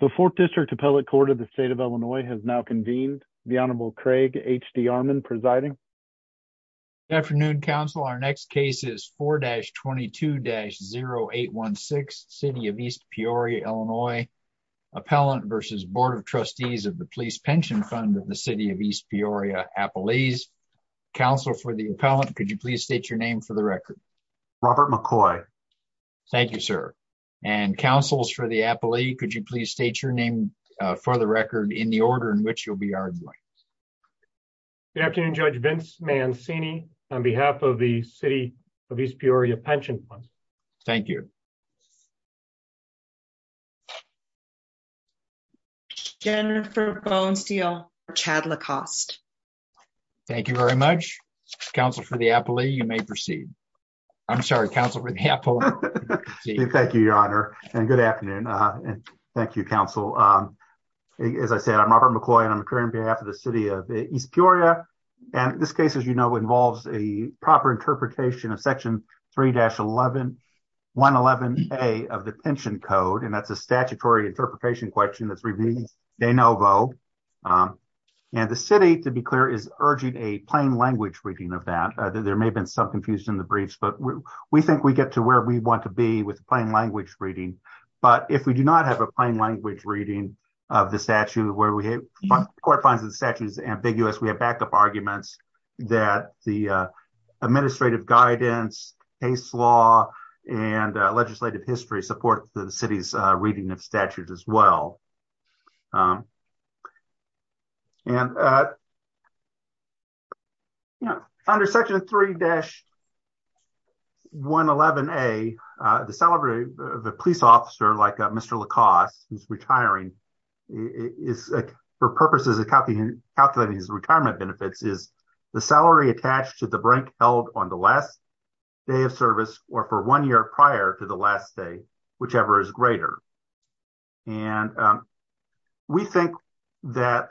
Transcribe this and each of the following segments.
The 4th District Appellate Court of the State of Illinois has now convened. The Honorable Craig H.D. Armon presiding. Good afternoon, Counsel. Our next case is 4-22-0816, City of East Peoria, Illinois. Appellant v. Board of Trustees of the Police Pension Fund of the City of East Peoria, Appalese. Counsel, for the appellant, could you please state your name for the record? Robert McCoy. Thank you, sir. And, Counsel, for the appellee, could you please state your name for the record in the order in which you'll be arguing? Good afternoon, Judge Vince Mancini. On behalf of the City of East Peoria Pension Fund. Thank you. Jennifer Bonesteel. Thank you very much. Counsel, for the appellee, you may proceed. I'm sorry, Counsel, for the appellant. Thank you, Your Honor, and good afternoon. Thank you, Counsel. As I said, I'm Robert McCoy, and I'm occurring on behalf of the City of East Peoria. And this case, as you know, involves a proper interpretation of Section 3-111A of the Pension Code. And that's a statutory interpretation question that's revealed de novo. And the City, to be clear, is urging a plain language reading of that. There may have been some confusion in the briefs, but we think we get to where we want to be with plain language reading. But if we do not have a plain language reading of the statute where we have court finds the statute is ambiguous, we have backup arguments that the administrative guidance, case law, and legislative history support the city's reading of statutes as well. And, you know, under Section 3-111A, the salary of a police officer like Mr. LaCoste, who's retiring, for purposes of calculating his retirement benefits is the salary attached to the break held on the last day of service or for one year prior to the last day, whichever is greater. And we think that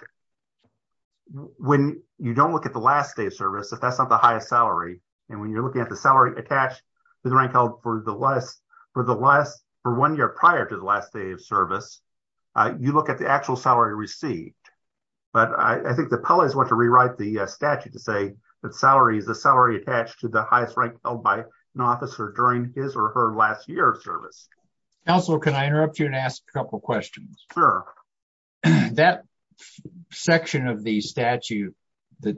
when you don't look at the last day of service, if that's not the highest salary, and when you're looking at the salary attached to the rank held for one year prior to the last day of service, you look at the actual salary received. But I think the appellees want to rewrite the statute to say that salary is the salary attached to the highest rank held by an officer during his or her last year of service. Counselor, can I interrupt you and ask a couple questions? Sure. That section of the statute that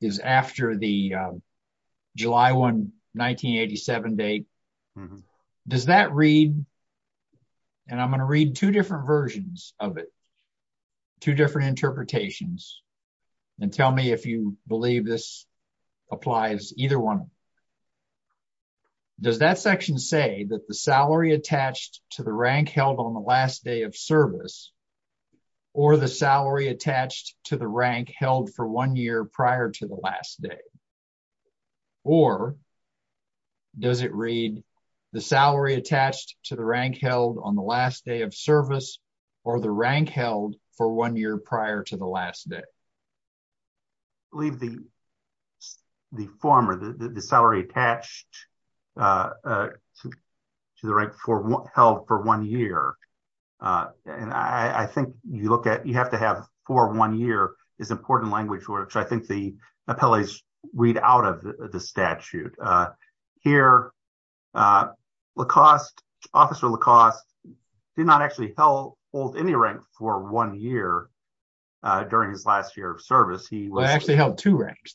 is after the July 1, 1987 date, does that read, and I'm going to read two different versions of it, two different interpretations, and tell me if you believe this applies to either one. Does that section say that the salary attached to the rank held on the last day of service, or the salary attached to the rank held for one year prior to the last day? Or does it read the salary attached to the rank held on the last day of service or the rank held for one year prior to the last day. Leave the former, the salary attached to the rank held for one year. And I think you look at you have to have for one year is important language, which I think the appellees read out of the statute. Here, Lacoste, Officer Lacoste did not actually hold any rank for one year during his last year of service. He actually held two ranks,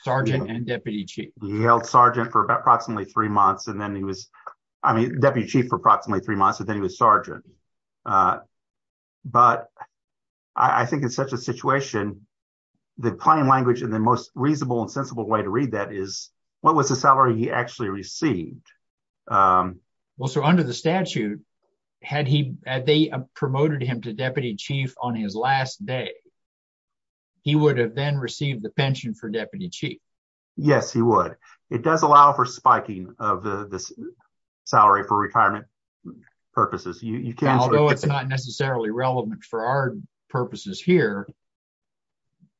Sergeant and Deputy Chief. He held Sergeant for approximately three months and then he was Deputy Chief for approximately three months and then he was Sergeant. But I think in such a situation, the plain language and the most reasonable and sensible way to read that is what was the salary he actually received? Well, so under the statute, had he had they promoted him to Deputy Chief on his last day? He would have then received the pension for Deputy Chief. Yes, he would. It does allow for spiking of the salary for retirement purposes. You know, it's not necessarily relevant for our purposes here.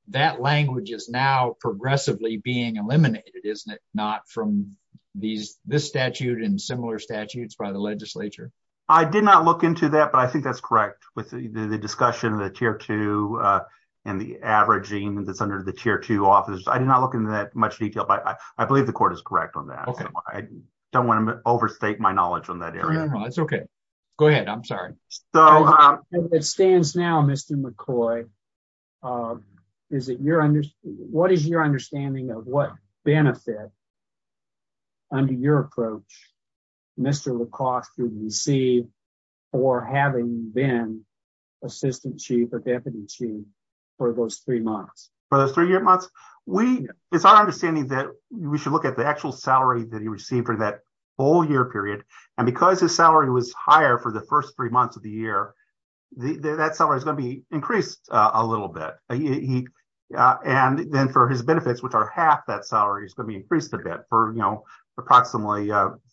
That language is now progressively being eliminated, isn't it? Not from these this statute and similar statutes by the legislature. I did not look into that, but I think that's correct with the discussion of the tier two and the averaging that's under the tier two office. I did not look into that much detail, but I believe the court is correct on that. OK, I don't want to overstate my knowledge on that. It's OK. Go ahead. I'm sorry. So it stands now, Mr. McCoy. Is it your what is your understanding of what benefit? Under your approach, Mr. Lacoste, you see, or having been assistant chief of deputy chief for those three months. For those three months, we it's our understanding that we should look at the actual salary that he received for that whole year period. And because his salary was higher for the first three months of the year, that salary is going to be increased a little bit. And then for his benefits, which are half that salary is going to be increased a bit for, you know, approximately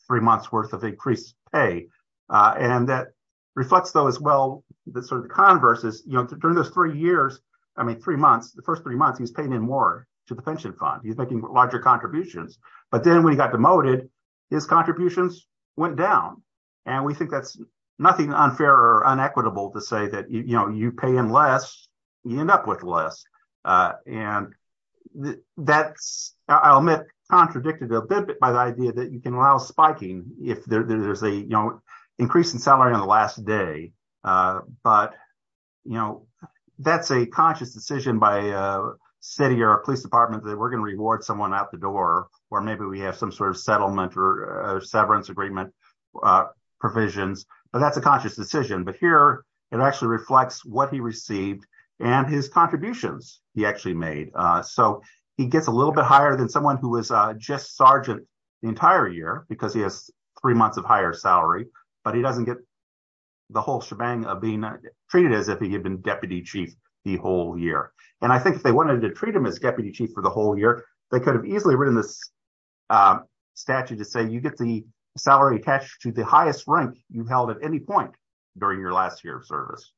three months worth of increased pay. And that reflects, though, as well, the sort of the converse is, you know, during those three years, I mean, three months, the first three months he's paying in more to the pension fund. He's making larger contributions. But then when he got demoted, his contributions went down. And we think that's nothing unfair or inequitable to say that, you know, you pay in less, you end up with less. And that's, I'll admit, contradicted a bit by the idea that you can allow spiking if there's a, you know, increase in salary on the last day. But, you know, that's a conscious decision by a city or a police department that we're going to reward someone out the door or maybe we have some sort of settlement or severance agreement provisions. But that's a conscious decision. But here it actually reflects what he received and his contributions he actually made. So he gets a little bit higher than someone who was just sergeant the entire year because he has three months of higher salary. But he doesn't get the whole shebang of being treated as if he had been deputy chief the whole year. And I think if they wanted to treat him as deputy chief for the whole year, they could have easily written this statute to say you get the salary attached to the highest rank you held at any point during your last year of service.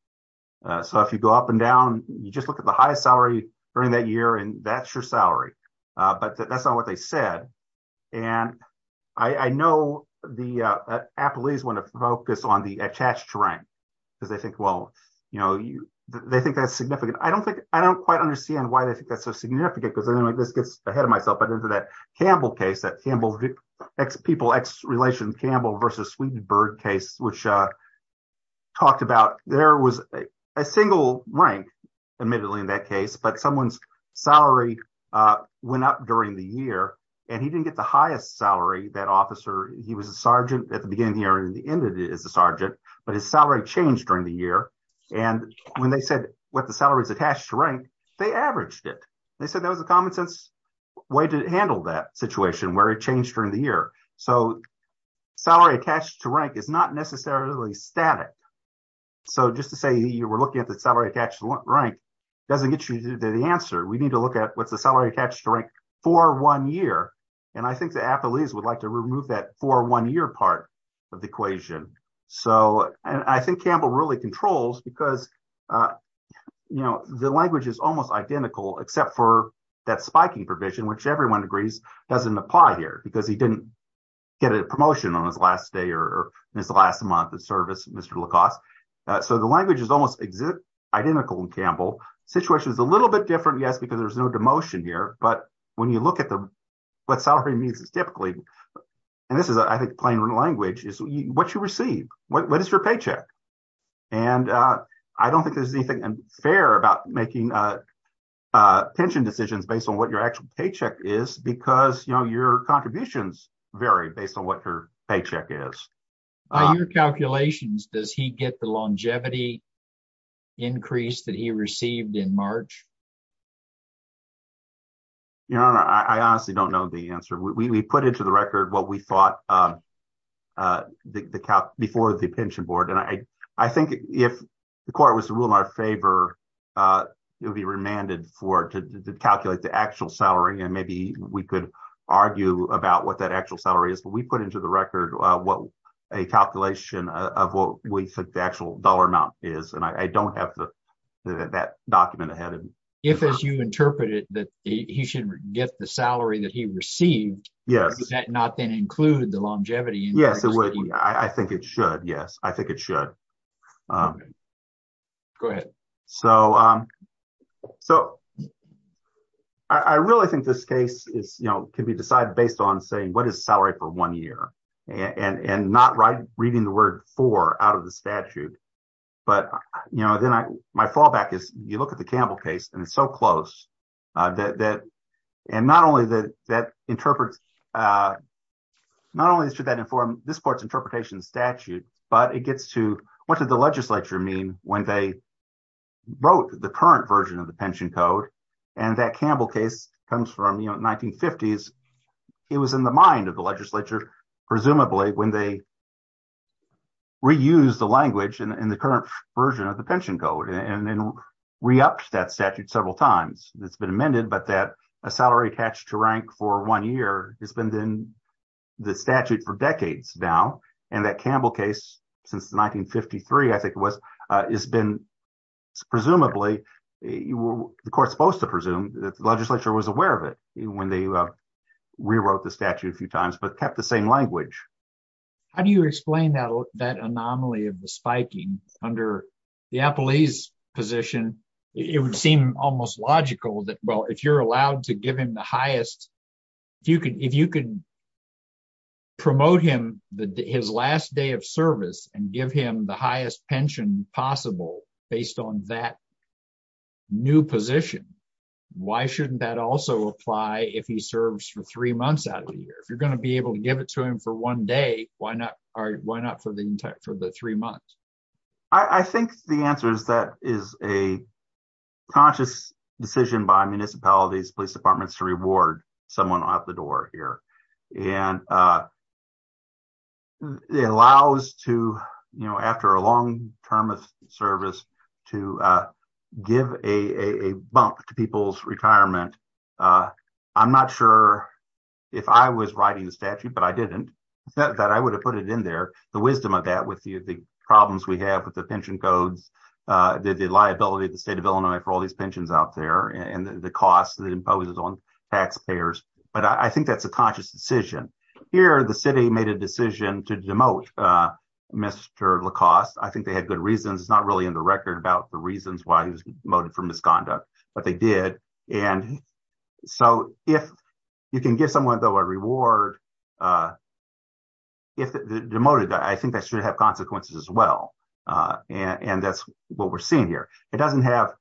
So if you go up and down, you just look at the highest salary during that year and that's your salary. But that's not what they said. And I know the police want to focus on the attached rank because they think, well, you know, they think that's significant. I don't think I don't quite understand why they think that's so significant because this gets ahead of myself. But into that Campbell case that Campbell X people X relations Campbell versus Swedenberg case, which talked about there was a single rank, admittedly, in that case. But someone's salary went up during the year and he didn't get the highest salary. That officer, he was a sergeant at the beginning or the end of it as a sergeant, but his salary changed during the year. And when they said what the salary is attached to rank, they averaged it. They said that was a common sense way to handle that situation where it changed during the year. So salary attached to rank is not necessarily static. So just to say you were looking at the salary attached rank doesn't get you the answer. We need to look at what's the salary attached to rank for one year. And I think the athletes would like to remove that for one year part of the equation. So I think Campbell really controls because, you know, the language is almost identical, except for that spiking provision, which everyone agrees doesn't apply here because he didn't get a promotion on his last day or his last month of service. So the language is almost identical in Campbell situation is a little bit different. Yes, because there's no demotion here. But when you look at what salary means, it's typically and this is, I think, plain language is what you receive. What is your paycheck? And I don't think there's anything fair about making pension decisions based on what your actual paycheck is, because, you know, your contributions vary based on what your paycheck is. Your calculations, does he get the longevity increase that he received in March? You know, I honestly don't know the answer. We put into the record what we thought. The before the pension board, and I think if the court was to rule in our favor, it would be remanded for to calculate the actual salary. And maybe we could argue about what that actual salary is. But we put into the record what a calculation of what we think the actual dollar amount is. And I don't have that document ahead of me. If, as you interpret it, that he should get the salary that he received. Yes. That not then include the longevity. Yes, it would. I think it should. Yes, I think it should. Go ahead. So, so. I really think this case is, you know, can be decided based on saying what is salary for one year and and not right reading the word for out of the statute. But, you know, then I, my fallback is you look at the Campbell case and it's so close that that. And not only that, that interprets. Not only should that inform this court's interpretation statute, but it gets to what did the legislature mean when they wrote the current version of the pension code. And that Campbell case comes from, you know, 1950s. It was in the mind of the legislature, presumably when they. Reuse the language and the current version of the pension code and then re-upped that statute several times. It's been amended, but that a salary attached to rank for one year has been in the statute for decades now. And that Campbell case since 1953, I think, was has been presumably the court supposed to presume that the legislature was aware of it when they rewrote the statute a few times, but kept the same language. How do you explain that that anomaly of the spiking under the appellees position, it would seem almost logical that well if you're allowed to give him the highest. If you can, if you can promote him the his last day of service and give him the highest pension possible, based on that new position. Why shouldn't that also apply if he serves for three months out of the year if you're going to be able to give it to him for one day, why not, or why not for the entire for the three months. I think the answer is that is a conscious decision by municipalities police departments to reward someone out the door here, and It allows to, you know, after a long term of service to give a bump to people's retirement. I'm not sure if I was writing the statute, but I didn't that I would have put it in there, the wisdom of that with you, the problems we have with the pension codes. The liability of the state of Illinois for all these pensions out there and the cost that imposes on taxpayers, but I think that's a conscious decision here the city made a decision to demote. Mr lacoste I think they had good reasons it's not really in the record about the reasons why he was motive for misconduct, but they did. And so if you can give someone a reward. If the motive. I think that should have consequences as well. And that's what we're seeing here. It doesn't have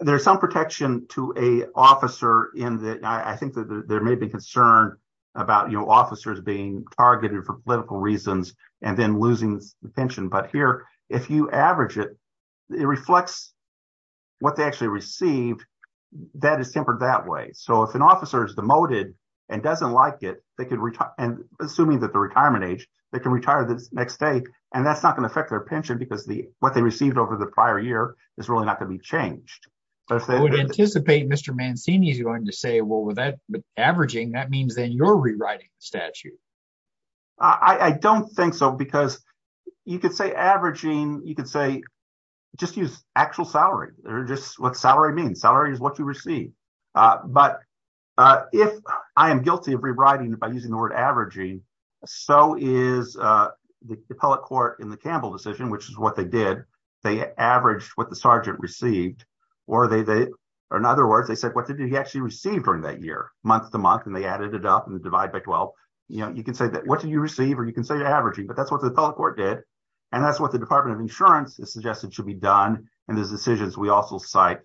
There's some protection to a officer in that I think that there may be concerned about, you know, officers being targeted for political reasons and then losing the pension. But here, if you average it It reflects what they actually received that is tempered that way. So if an officer is demoted and doesn't like it, they could retire and assuming that the retirement age, they can retire the next day. And that's not going to affect their pension because the what they received over the prior year is really not going to be changed. Anticipate Mr Mancini is going to say, well, with that averaging that means then you're rewriting statute. I don't think so. Because you could say averaging. You could say just use actual salary or just what salary means salary is what you receive but If I am guilty of rewriting it by using the word averaging. So is the public court in the Campbell decision, which is what they did. They averaged what the sergeant received Or they they are. In other words, they said, what did he actually received during that year month to month and they added it up and divide by 12 You know, you can say that. What do you receive or you can say averaging, but that's what the public court did. And that's what the Department of Insurance is suggested should be done. And there's decisions. We also cite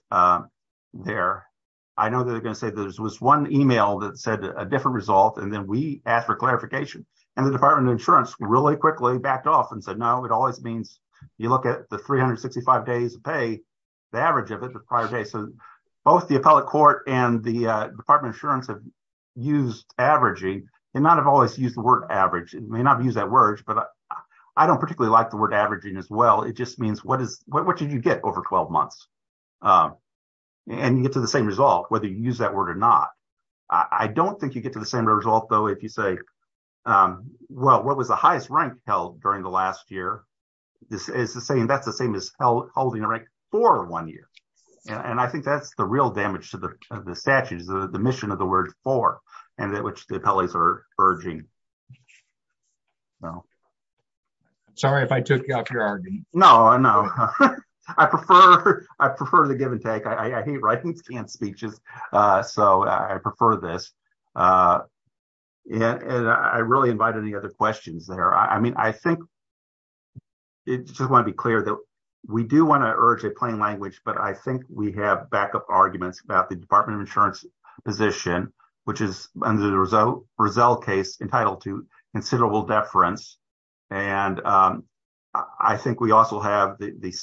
There. I know that they're going to say there's was one email that said a different result. And then we asked for clarification and the Department of Insurance really quickly backed off and said, no, it always means You look at the 365 days pay the average of it. The prior day. So both the appellate court and the Department of Insurance have used averaging and not have always used the word average may not use that words, but I don't particularly like the word averaging as well. It just means what is what did you get over 12 months And you get to the same result, whether you use that word or not. I don't think you get to the same result, though, if you say, well, what was the highest rank held during the last year. This is the same. That's the same as held holding a rank for one year. And I think that's the real damage to the statutes, the mission of the word for and that which the appellees are urging Sorry if I took up your argument. No, no, I prefer. I prefer the give and take. I hate writing speeches. So I prefer this Yeah, and I really invite any other questions there. I mean, I think It just want to be clear that we do want to urge a plain language, but I think we have backup arguments about the Department of Insurance position, which is under the result Brazil case entitled to considerable deference and I think we also have the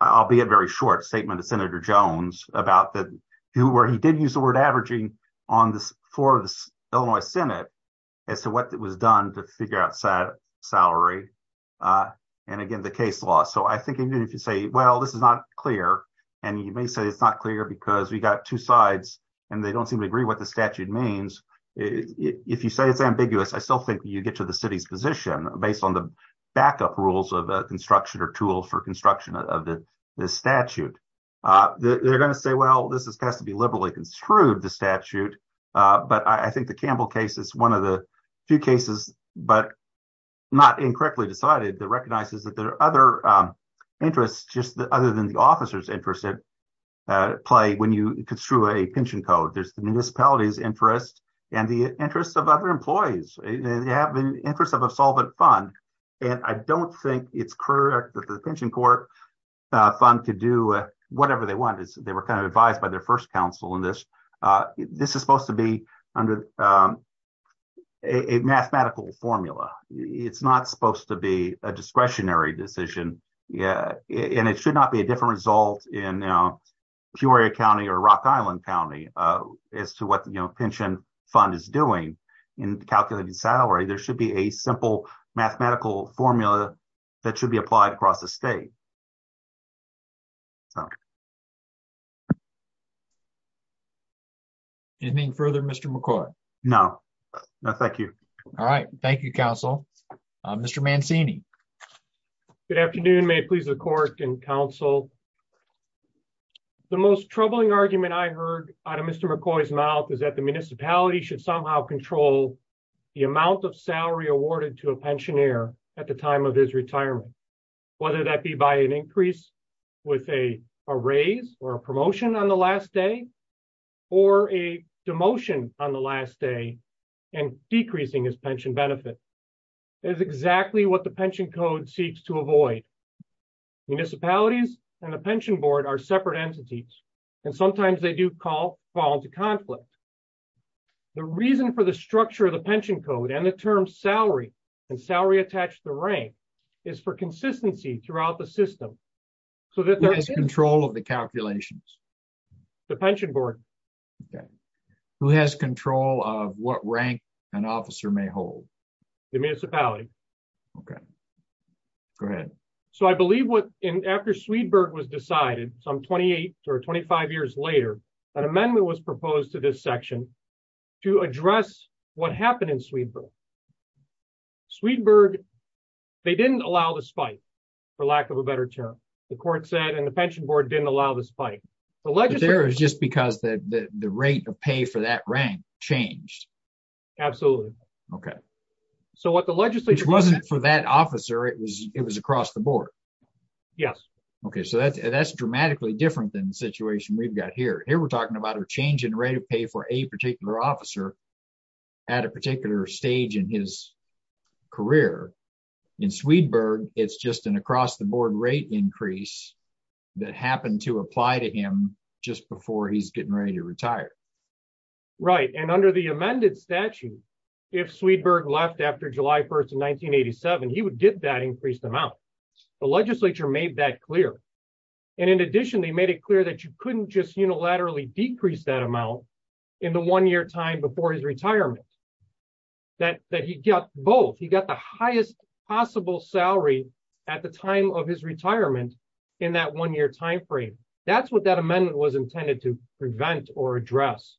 I'll be a very short statement to Senator Jones about that, who were he did use the word averaging on this for the Illinois Senate as to what was done to figure out set salary. And again, the case law. So I think if you say, well, this is not clear. And you may say it's not clear because we got two sides and they don't seem to agree what the statute means If you say it's ambiguous. I still think you get to the city's position based on the backup rules of construction or tool for construction of the statute. They're going to say, well, this has got to be liberally construed the statute, but I think the Campbell case is one of the few cases, but Not incorrectly decided that recognizes that there are other interests, just other than the officers interested Play when you construe a pension code. There's the municipalities interest and the interest of other employees, they have an interest of a solvent fund. And I don't think it's correct that the pension court fund to do whatever they want is they were kind of advised by their first counsel in this. This is supposed to be under A mathematical formula. It's not supposed to be a discretionary decision. Yeah, and it should not be a different result in Peoria County or Rock Island County as to what you know pension fund is doing in calculating salary, there should be a simple mathematical formula that should be applied across the state. Okay. Anything further. Mr McCoy. No, no. Thank you. All right. Thank you. Council. Mr Mancini. Good afternoon. May it please the court and counsel. The most troubling argument I heard out of Mr McCoy's mouth is that the municipality should somehow control The amount of salary awarded to a pensioner at the time of his retirement, whether that be by an increase with a raise or a promotion on the last day. Or a demotion on the last day and decreasing his pension benefit is exactly what the pension code seeks to avoid Municipalities and the pension board are separate entities and sometimes they do call fall into conflict. The reason for the structure of the pension code and the term salary and salary attached the rank is for consistency throughout the system so that there is control of the calculations. The pension board. Okay. Who has control of what rank an officer may hold The municipality. Okay. Go ahead. So I believe what in after Sweetberg was decided some 28 or 25 years later, an amendment was proposed to this section to address what happened in Sweetberg Sweetberg, they didn't allow the spike, for lack of a better term, the court said, and the pension board didn't allow the spike. There is just because the rate of pay for that rank changed. Absolutely. Okay, so what the legislature wasn't for that officer. It was, it was across the board. Yes. Okay, so that's that's dramatically different than the situation we've got here. Here we're talking about are changing rate of pay for a particular officer. At a particular stage in his career in Sweetberg. It's just an across the board rate increase that happened to apply to him just before he's getting ready to retire. Right. And under the amended statute. If Sweetberg left after July 1 in 1987 he would get that increased amount. The legislature made that clear. And in addition, they made it clear that you couldn't just unilaterally decrease that amount in the one year time before his retirement. That that he got both he got the highest possible salary at the time of his retirement in that one year timeframe. That's what that amendment was intended to prevent or address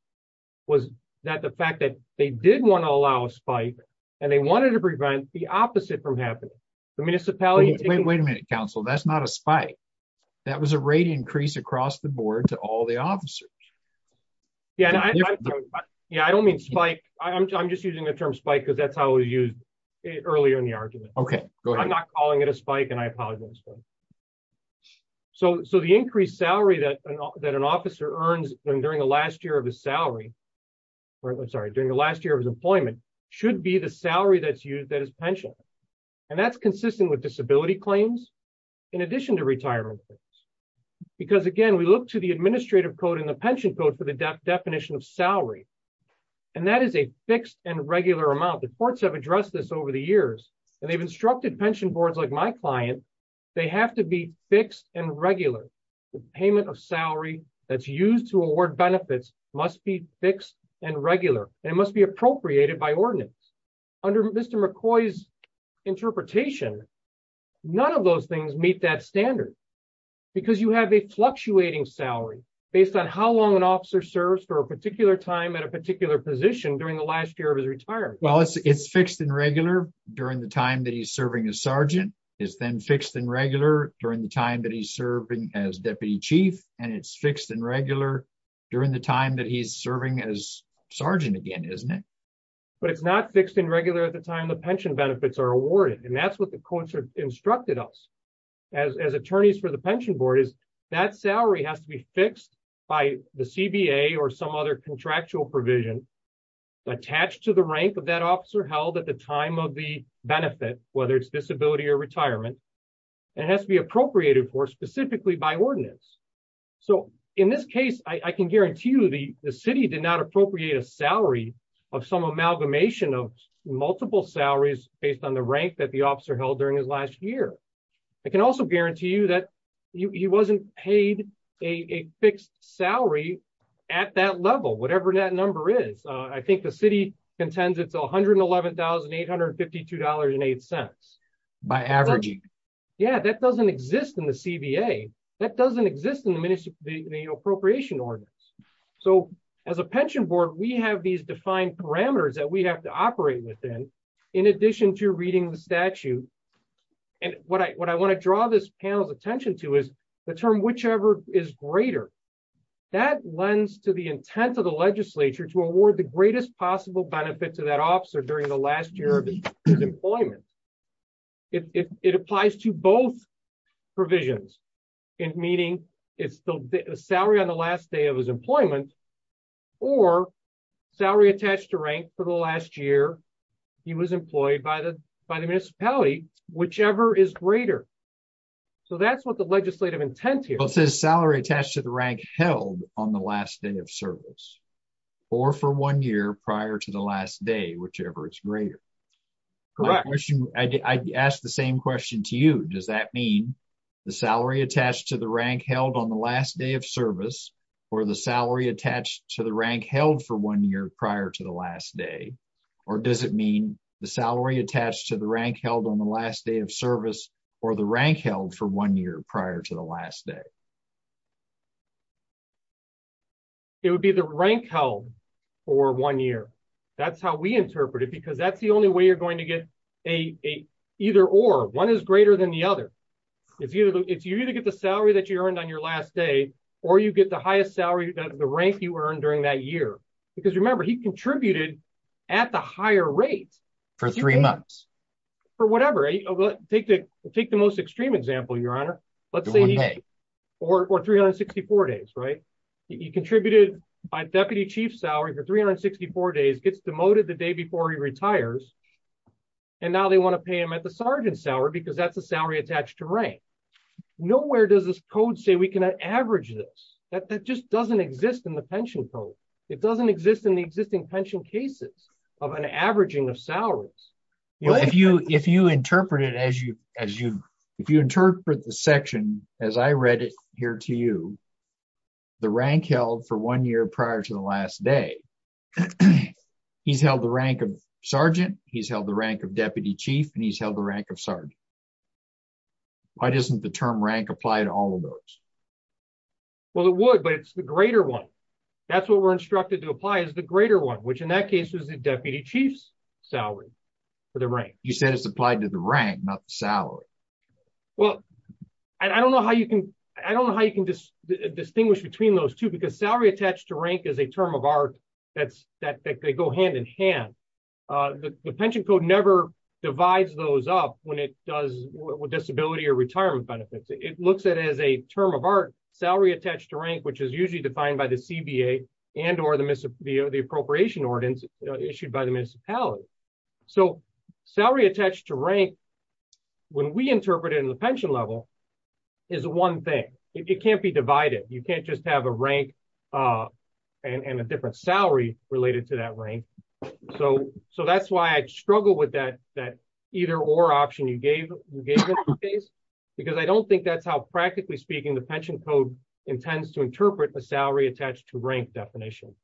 was that the fact that they didn't want to allow a spike, and they wanted to prevent the opposite from happening. The municipality. Wait, wait a minute, Council, that's not a spike. That was a rate increase across the board to all the officers. Yeah. Yeah, I don't mean spike. I'm just using the term spike because that's how we use it earlier in the argument. Okay, I'm not calling it a spike and I apologize. So, so the increased salary that an officer earns during the last year of his salary. Sorry, during the last year of employment should be the salary that's used that is pension. And that's consistent with disability claims. In addition to retirement. Because again we look to the administrative code in the pension code for the definition of salary. And that is a fixed and regular amount the courts have addressed this over the years, and they've instructed pension boards like my client. They have to be fixed and regular payment of salary, that's used to award benefits must be fixed and regular, and it must be appropriated by ordinance. Under Mr McCoy's interpretation. None of those things meet that standard, because you have a fluctuating salary, based on how long an officer serves for a particular time at a particular position during the last year of his retirement, well it's it's fixed and regular during the time that he's serving a sergeant is then fixed and regular during the time that he's serving as Deputy Chief, and it's fixed and regular during the time that he's serving as Sergeant again isn't it. But it's not fixed and regular at the time the pension benefits are awarded and that's what the courts are instructed us as attorneys for the pension board is that salary has to be fixed by the CBA or some other contractual provision attached to the rank of that officer held at the time of the benefit, whether it's disability or retirement. It has to be appropriated for specifically by ordinance. So, in this case, I can guarantee you the city did not appropriate a salary of some amalgamation of multiple salaries, based on the rank that the officer held during his last year. I can also guarantee you that he wasn't paid a fixed salary at that level, whatever that number is, I think the city contends it's $111,852 and eight cents by averaging. Yeah, that doesn't exist in the CBA, that doesn't exist in the ministry, the appropriation ordinance. So, as a pension board we have these defined parameters that we have to operate within. In addition to reading the statute. And what I what I want to draw this panel's attention to is the term whichever is greater. That lends to the intent of the legislature to award the greatest possible benefit to that officer during the last year of employment. It applies to both provisions in meeting, it's the salary on the last day of his employment or salary attached to rank for the last year. He was employed by the by the municipality, whichever is greater. So that's what the legislative intent here says salary attached to the rank held on the last day of service, or for one year prior to the last day, whichever is greater. Correct. She asked the same question to you. Does that mean the salary attached to the rank held on the last day of service, or the salary attached to the rank held for one year prior to the last day, or does it mean the salary attached to the rank held on the last day of service, or the rank held for one year prior to the last day. It would be the rank held for one year. That's how we interpret it because that's the only way you're going to get a either or one is greater than the other. If you, if you need to get the salary that you earned on your last day, or you get the highest salary, the rank you earned during that year, because remember he contributed at the higher rate for three months for whatever take the take the most extreme example your honor. Let's say, or 364 days right. He contributed by deputy chief salary for 364 days gets demoted the day before he retires. And now they want to pay him at the sergeant salary because that's the salary attached to rank. Nowhere does this code say we can average this, that that just doesn't exist in the pension code. It doesn't exist in the existing pension cases of an averaging of salaries. If you, if you interpret it as you, as you, if you interpret the section, as I read it here to you, the rank held for one year prior to the last day. He's held the rank of sergeant, he's held the rank of deputy chief and he's held the rank of sergeant. Why doesn't the term rank applied all of those. Well, it would but it's the greater one. That's what we're instructed to apply is the greater one which in that case was the deputy chief's salary for the rank, you said it's applied to the rank not salary. Well, I don't know how you can. I don't know how you can just distinguish between those two because salary attached to rank is a term of art. That's that they go hand in hand. The pension code never divides those up when it does with disability or retirement benefits, it looks at as a term of art salary attached to rank which is usually defined by the CBA, and or the Mississippi or the appropriation ordinance issued by the municipality. So, salary attached to rank. When we interpret it in the pension level is one thing, it can't be divided, you can't just have a rank. And a different salary related to that rank. So, so that's why I struggle with that, that either or option you gave you gave us a case, because I don't think that's how practically speaking the pension code intends to interpret the salary attached to rank definition.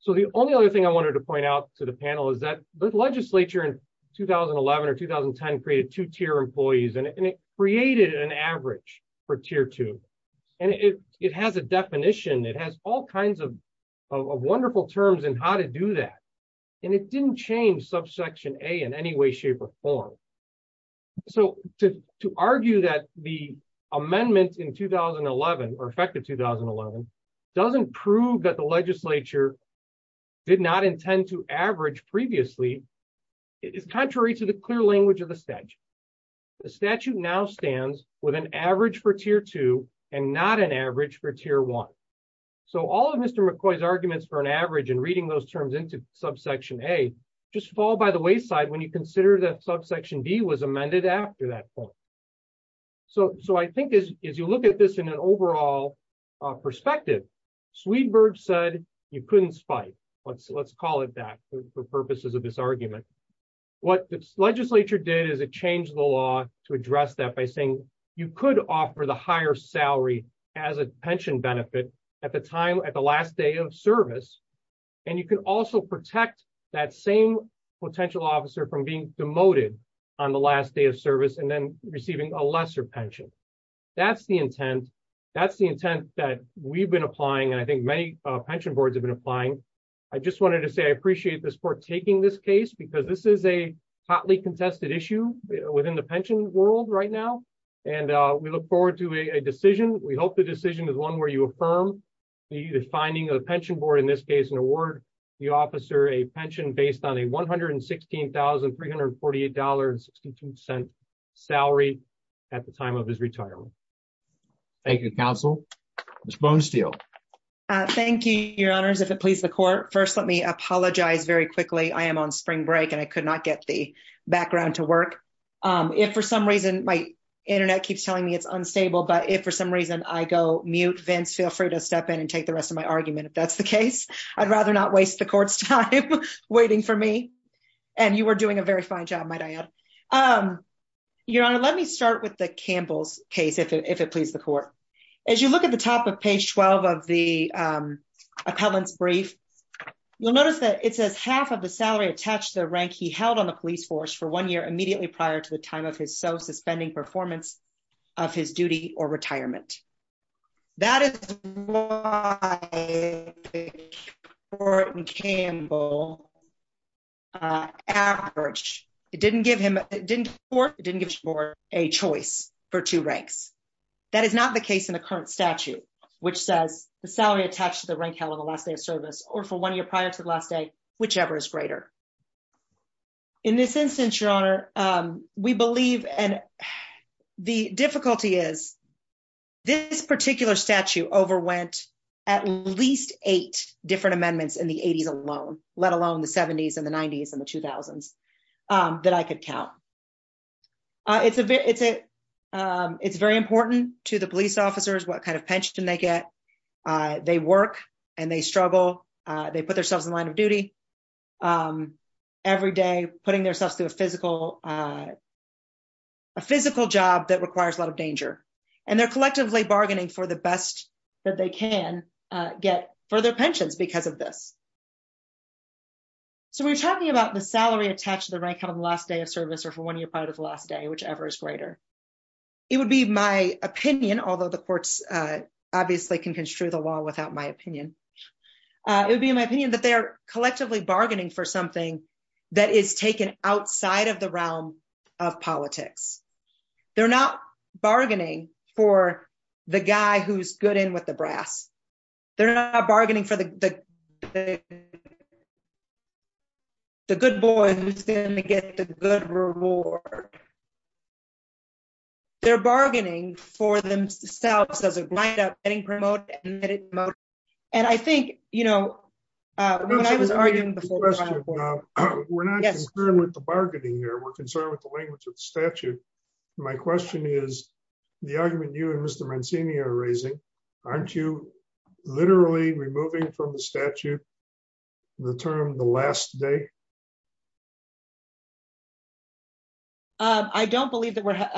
So the only other thing I wanted to point out to the panel is that the legislature in 2011 or 2010 created two tier employees and it created an average for tier two. And it, it has a definition it has all kinds of wonderful terms and how to do that. And it didn't change subsection a in any way, shape or form. So, to argue that the amendment in 2011 or effective 2011 doesn't prove that the legislature did not intend to average previously. It is contrary to the clear language of the stage. The statute now stands with an average for tier two and not an average for tier one. So all of Mr McCoy's arguments for an average and reading those terms into subsection a just fall by the wayside when you consider that subsection D was amended after that point. So, so I think is, is you look at this in an overall perspective, Swedenberg said you couldn't spite. Let's, let's call it back for purposes of this argument. What the legislature did is it changed the law to address that by saying you could offer the higher salary as a pension benefit at the time at the last day of service. And you can also protect that same potential officer from being demoted on the last day of service and then receiving a lesser pension. That's the intent. That's the intent that we've been applying and I think many pension boards have been applying. I just wanted to say I appreciate this for taking this case because this is a hotly contested issue within the pension world right now. And we look forward to a decision, we hope the decision is one where you affirm the finding of the pension board in this case and award the officer a pension based on a $116,348.62 salary. At the time of his retirement. Thank you counsel was bone steel. Thank you, your honors if it pleases the court first let me apologize very quickly I am on spring break and I could not get the background to work. If for some reason my internet keeps telling me it's unstable but if for some reason I go mute Vince feel free to step in and take the rest of my argument if that's the case, I'd rather not waste the court's time waiting for me. And you were doing a very fine job my dad. Your Honor, let me start with the Campbell's case if it pleases the court. As you look at the top of page 12 of the appellants brief. You'll notice that it says half of the salary attached the rank he held on the police force for one year immediately prior to the time of his self suspending performance of his duty or retirement. That is why or Campbell average, it didn't give him didn't work didn't give her a choice for two ranks. That is not the case in the current statute, which says the salary attached to the rank hell of the last day of service, or for one year prior to the last day, whichever is greater. In this instance, Your Honor. We believe, and the difficulty is. This particular statute overwent at least eight different amendments in the 80s alone, let alone the 70s and the 90s and the 2000s that I could count. It's a bit, it's a. It's very important to the police officers what kind of pension they get. They work, and they struggle. They put themselves in line of duty. A physical job that requires a lot of danger, and they're collectively bargaining for the best that they can get for their pensions because of this. So we're talking about the salary attached the rank of the last day of service or for one year prior to the last day, whichever is greater. It would be my opinion, although the courts, obviously can construe the law without my opinion. It would be my opinion that they're collectively bargaining for something that is taken outside of the realm of politics. They're not bargaining for the guy who's good in with the brass. They're not bargaining for the. The good boy who's going to get the good reward. They're bargaining for themselves as a lineup getting promoted. And I think, you know, when I was arguing before, we're not concerned with the bargaining here we're concerned with the language of statute. My question is the argument you and Mr Mancini are raising. Aren't you literally removing from the statute. The term the last day. I don't believe that we're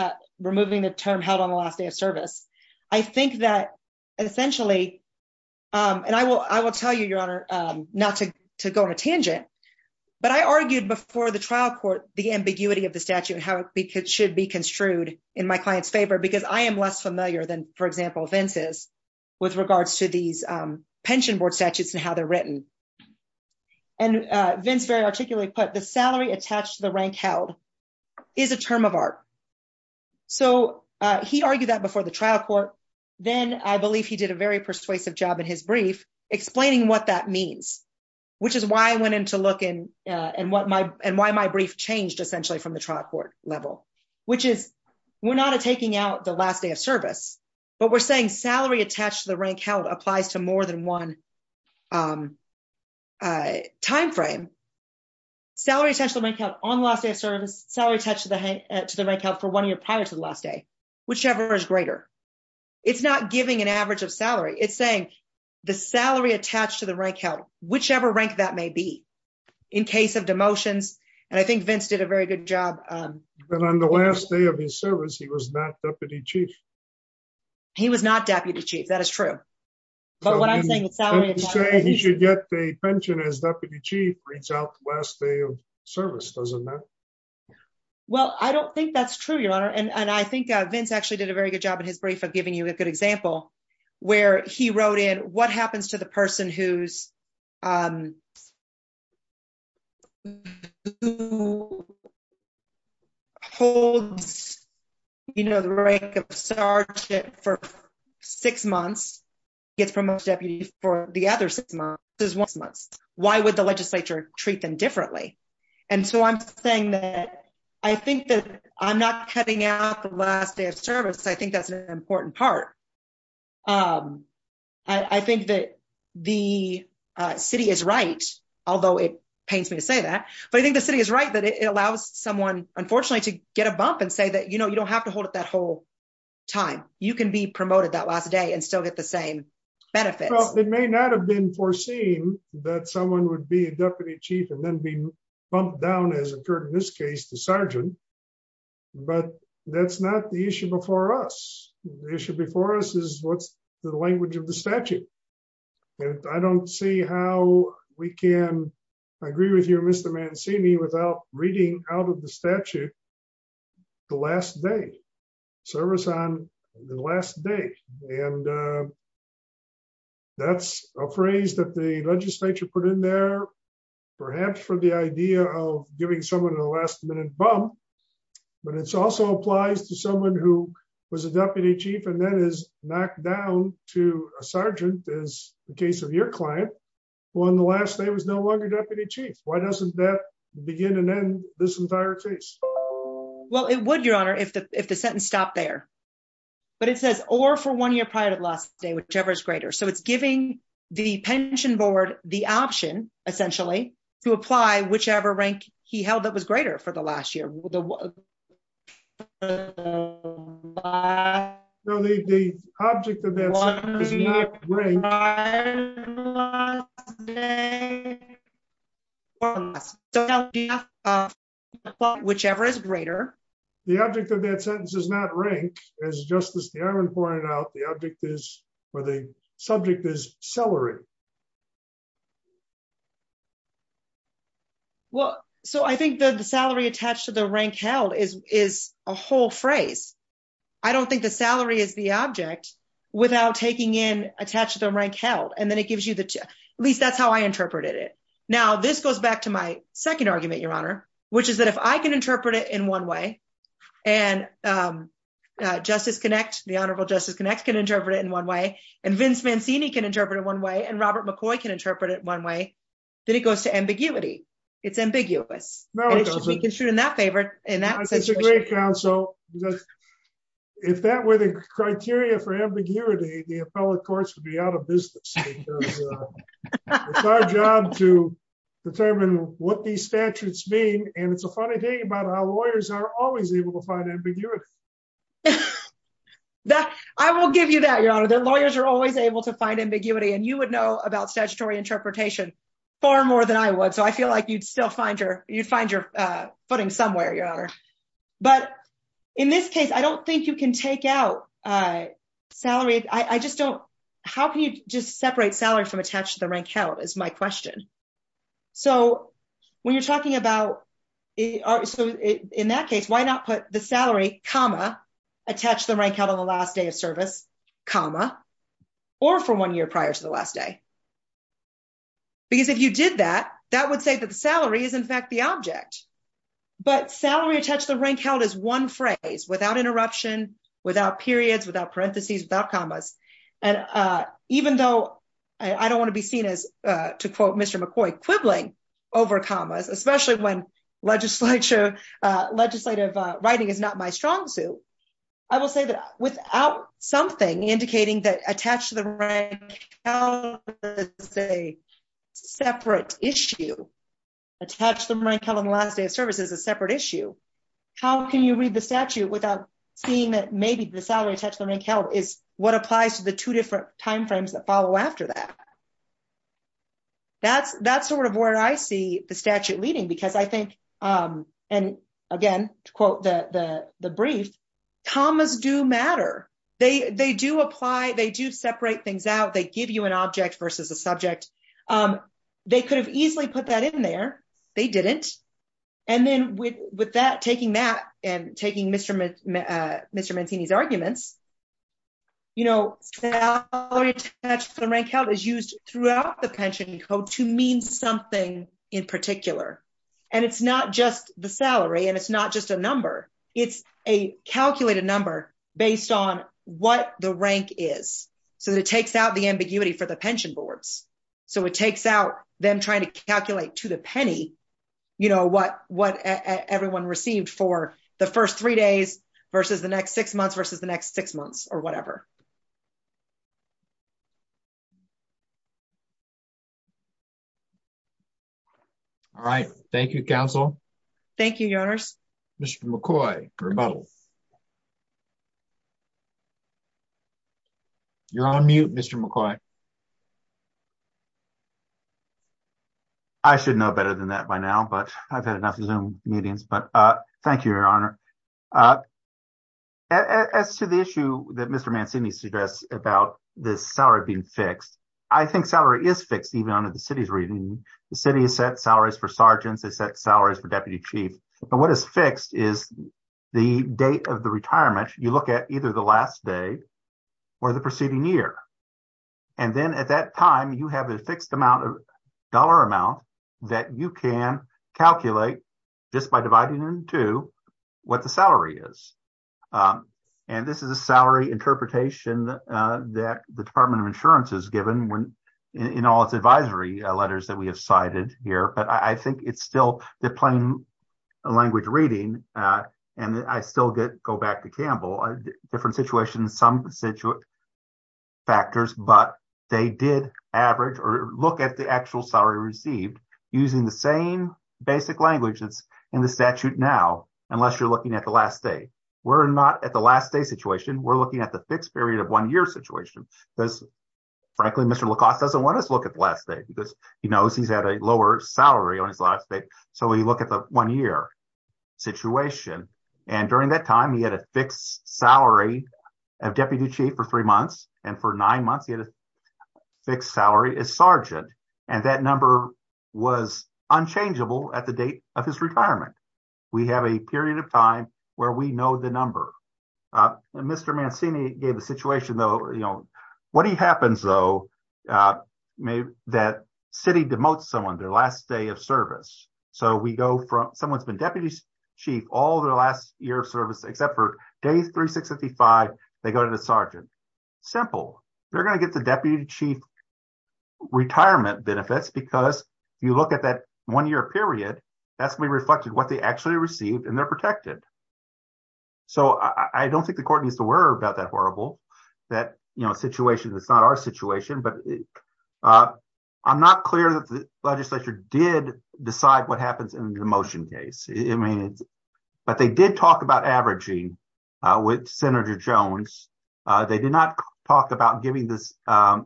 removing the term held on the last day of service. I think that, essentially, and I will I will tell you your honor, not to go on a tangent. But I argued before the trial court, the ambiguity of the statute and how it should be construed in my clients favor because I am less familiar than, for example, fences, with regards to these pension board statutes and how they're written. And Vince very articulate put the salary attached to the rank held is a term of art. So, he argued that before the trial court, then I believe he did a very persuasive job in his brief, explaining what that means, which is why I went into look in and what my and why my brief changed essentially from the trial court level, which is, we're not taking out the last day of service, but we're saying salary attached to the rank held applies to more than one. Time frame. Salary, essentially, make up on last day of service salary attached to the head to the rank held for one year prior to the last day, whichever is greater. It's not giving an average of salary. It's saying the salary attached to the rank held, whichever rank that may be in case of demotions. And I think Vince did a very good job. And on the last day of his service. He was not deputy chief. He was not deputy chief. That is true. But what I'm saying is that he should get a pension as deputy chief reach out last day of service doesn't matter. Well, I don't think that's true, Your Honor, and I think Vince actually did a very good job in his brief of giving you a good example where he wrote in what happens to the person who's who holds, you know, the rank of sergeant for six months, gets promoted to deputy for the other six months. Why would the legislature treat them differently? And so I'm saying that I think that I'm not cutting out the last day of service. I think that's an important part. I think that the city is right, although it pains me to say that, but I think the city is right that it allows someone, unfortunately, to get a bump and say that you know you don't have to hold it that whole time, you can be promoted that last day and still get the same benefits. It may not have been foreseen that someone would be a deputy chief and then be bumped down as occurred in this case to sergeant. But that's not the issue before us. The issue before us is what's the language of the statute. And I don't see how we can agree with you, Mr. Mancini, without reading out of the statute, the last day. Service on the last day. And that's a phrase that the legislature put in there, perhaps for the idea of giving someone a last minute bump. But it also applies to someone who was a deputy chief and then is knocked down to a sergeant, as the case of your client, who on the last day was no longer deputy chief. Why doesn't that begin and end this entire case? Well, it would, Your Honor, if the sentence stopped there. But it says, or for one year prior to the last day, whichever is greater. So it's giving the pension board the option, essentially, to apply whichever rank he held that was greater for the last year. The object of that sentence does not rank for the last day or less. So now we have to apply whichever is greater. The object of that sentence does not rank. As Justice DeIron pointed out, the object is, or the subject is salary. Well, so I think the salary attached to the rank held is a whole phrase. I don't think the salary is the object without taking in attached to the rank held. And then it gives you the, at least that's how I interpreted it. Now, this goes back to my second argument, Your Honor, which is that if I can interpret it in one way, and Justice Connect, the Honorable Justice Connect can interpret it in one way, and Vince Mancini can interpret it one way, and Robert McCoy can interpret it one way, then it goes to ambiguity. It's ambiguous. No, it doesn't. And it should be construed in that favor, in that situation. It's a great counsel. If that were the criteria for ambiguity, the appellate courts would be out of business. It's our job to determine what these statutes mean, and it's a funny thing about how lawyers are always able to find ambiguity. I will give you that, Your Honor. Lawyers are always able to find ambiguity, and you would know about statutory interpretation far more than I would, so I feel like you'd still find your footing somewhere, Your Honor. But in this case, I don't think you can take out salary. I just don't. How can you just separate salary from attached to the rank held, is my question. So when you're talking about, in that case, why not put the salary, comma, attached to the rank held on the last day of service, comma, or for one year prior to the last day? Because if you did that, that would say that the salary is, in fact, the object. But salary attached to the rank held is one phrase, without interruption, without periods, without parentheses, without commas. And even though I don't want to be seen as, to quote Mr. McCoy, quibbling over commas, especially when legislative writing is not my strong suit, I will say that without something indicating that attached to the rank held is a separate issue, attached to the rank held on the last day of service is a separate issue, how can you read the statute without seeing that maybe the salary attached to the rank held is what applies to the two different timeframes that follow after that? That's sort of where I see the statute leading, because I think, and again, to quote the brief, commas do matter. They do apply, they do separate things out, they give you an object versus a subject. They could have easily put that in there. They didn't. And then with that, taking that and taking Mr. Mantini's arguments, you know, salary attached to the rank held is used throughout the pension code to mean something in particular. And it's not just the salary and it's not just a number, it's a calculated number based on what the rank is, so that it takes out the ambiguity for the pension boards. So it takes out them trying to calculate to the penny, you know, what everyone received for the first three days versus the next six months versus the next six months or whatever. All right. Thank you, Council. Thank you, Your Honors. Mr. McCoy, you're on mute, Mr. McCoy. I should know better than that by now, but I've had enough Zoom meetings, but thank you, Your Honor. As to the issue that Mr. Mantini suggests about the salary being fixed, I think salary is fixed, even under the city's reading. The city has set salaries for sergeants, they set salaries for deputy chief. But what is fixed is the date of the retirement. You look at either the last day or the preceding year. And then at that time, you have a fixed amount of dollar amount that you can calculate just by dividing into what the salary is. And this is a salary interpretation that the Department of Insurance has given in all its advisory letters that we have cited here. But I think it's still the plain language reading. And I still go back to Campbell, different situations, some factors, but they did average or look at the actual salary received using the same basic language that's in the statute now, unless you're looking at the last day. We're not at the last day situation. We're looking at the fixed period of one year situation because, frankly, Mr. LaCoste doesn't want us to look at the last day because he knows he's had a lower salary on his last day. So we look at the one year situation. And during that time, he had a fixed salary of deputy chief for three months. And for nine months, he had a fixed salary as sergeant. And that number was unchangeable at the date of his retirement. We have a period of time where we know the number. Mr. Mancini gave a situation, though. What happens, though, that city demotes someone their last day of service. So we go from someone's been deputy chief all their last year of service, except for day 365, they go to the sergeant. Simple. They're going to get the deputy chief retirement benefits because you look at that one year period. That's we reflected what they actually received and they're protected. So I don't think the court needs to worry about that horrible that situation. It's not our situation, but I'm not clear that the legislature did decide what happens in the motion case. But they did talk about averaging with Senator Jones. They did not talk about giving this a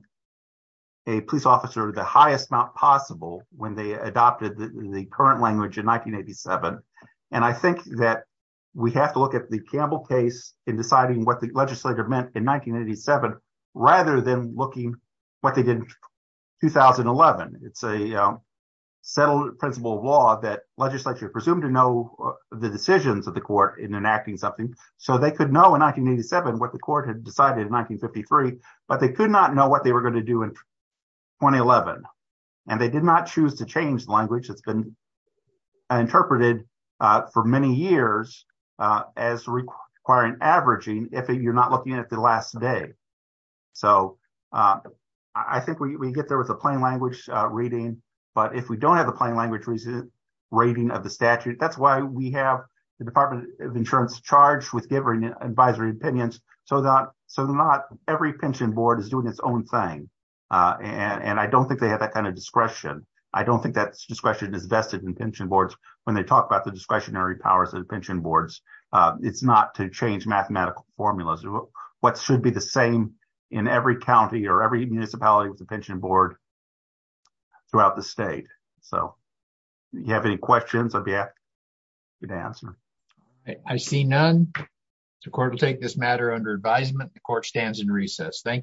police officer the highest possible when they adopted the current language in 1987. And I think that we have to look at the Campbell case in deciding what the legislature meant in 1987, rather than looking what they did in 2011. It's a settled principle of law that legislature presumed to know the decisions of the court in enacting something. So they could know in 1987 what the court had decided in 1953, but they could not know what they were going to do in 2011. And they did not choose to change the language that's been interpreted for many years as requiring averaging if you're not looking at the last day. So I think we get there with a plain language reading. But if we don't have the plain language reason rating of the statute. That's why we have the Department of Insurance charged with giving advisory opinions. So that so not every pension board is doing its own thing. And I don't think they have that kind of discretion. I don't think that discretion is vested in pension boards when they talk about the discretionary powers of pension boards. It's not to change mathematical formulas. What should be the same in every county or every municipality with a pension board throughout the state. So you have any questions I'd be happy to answer. I see none. The court will take this matter under advisement. The court stands in recess. Thank you.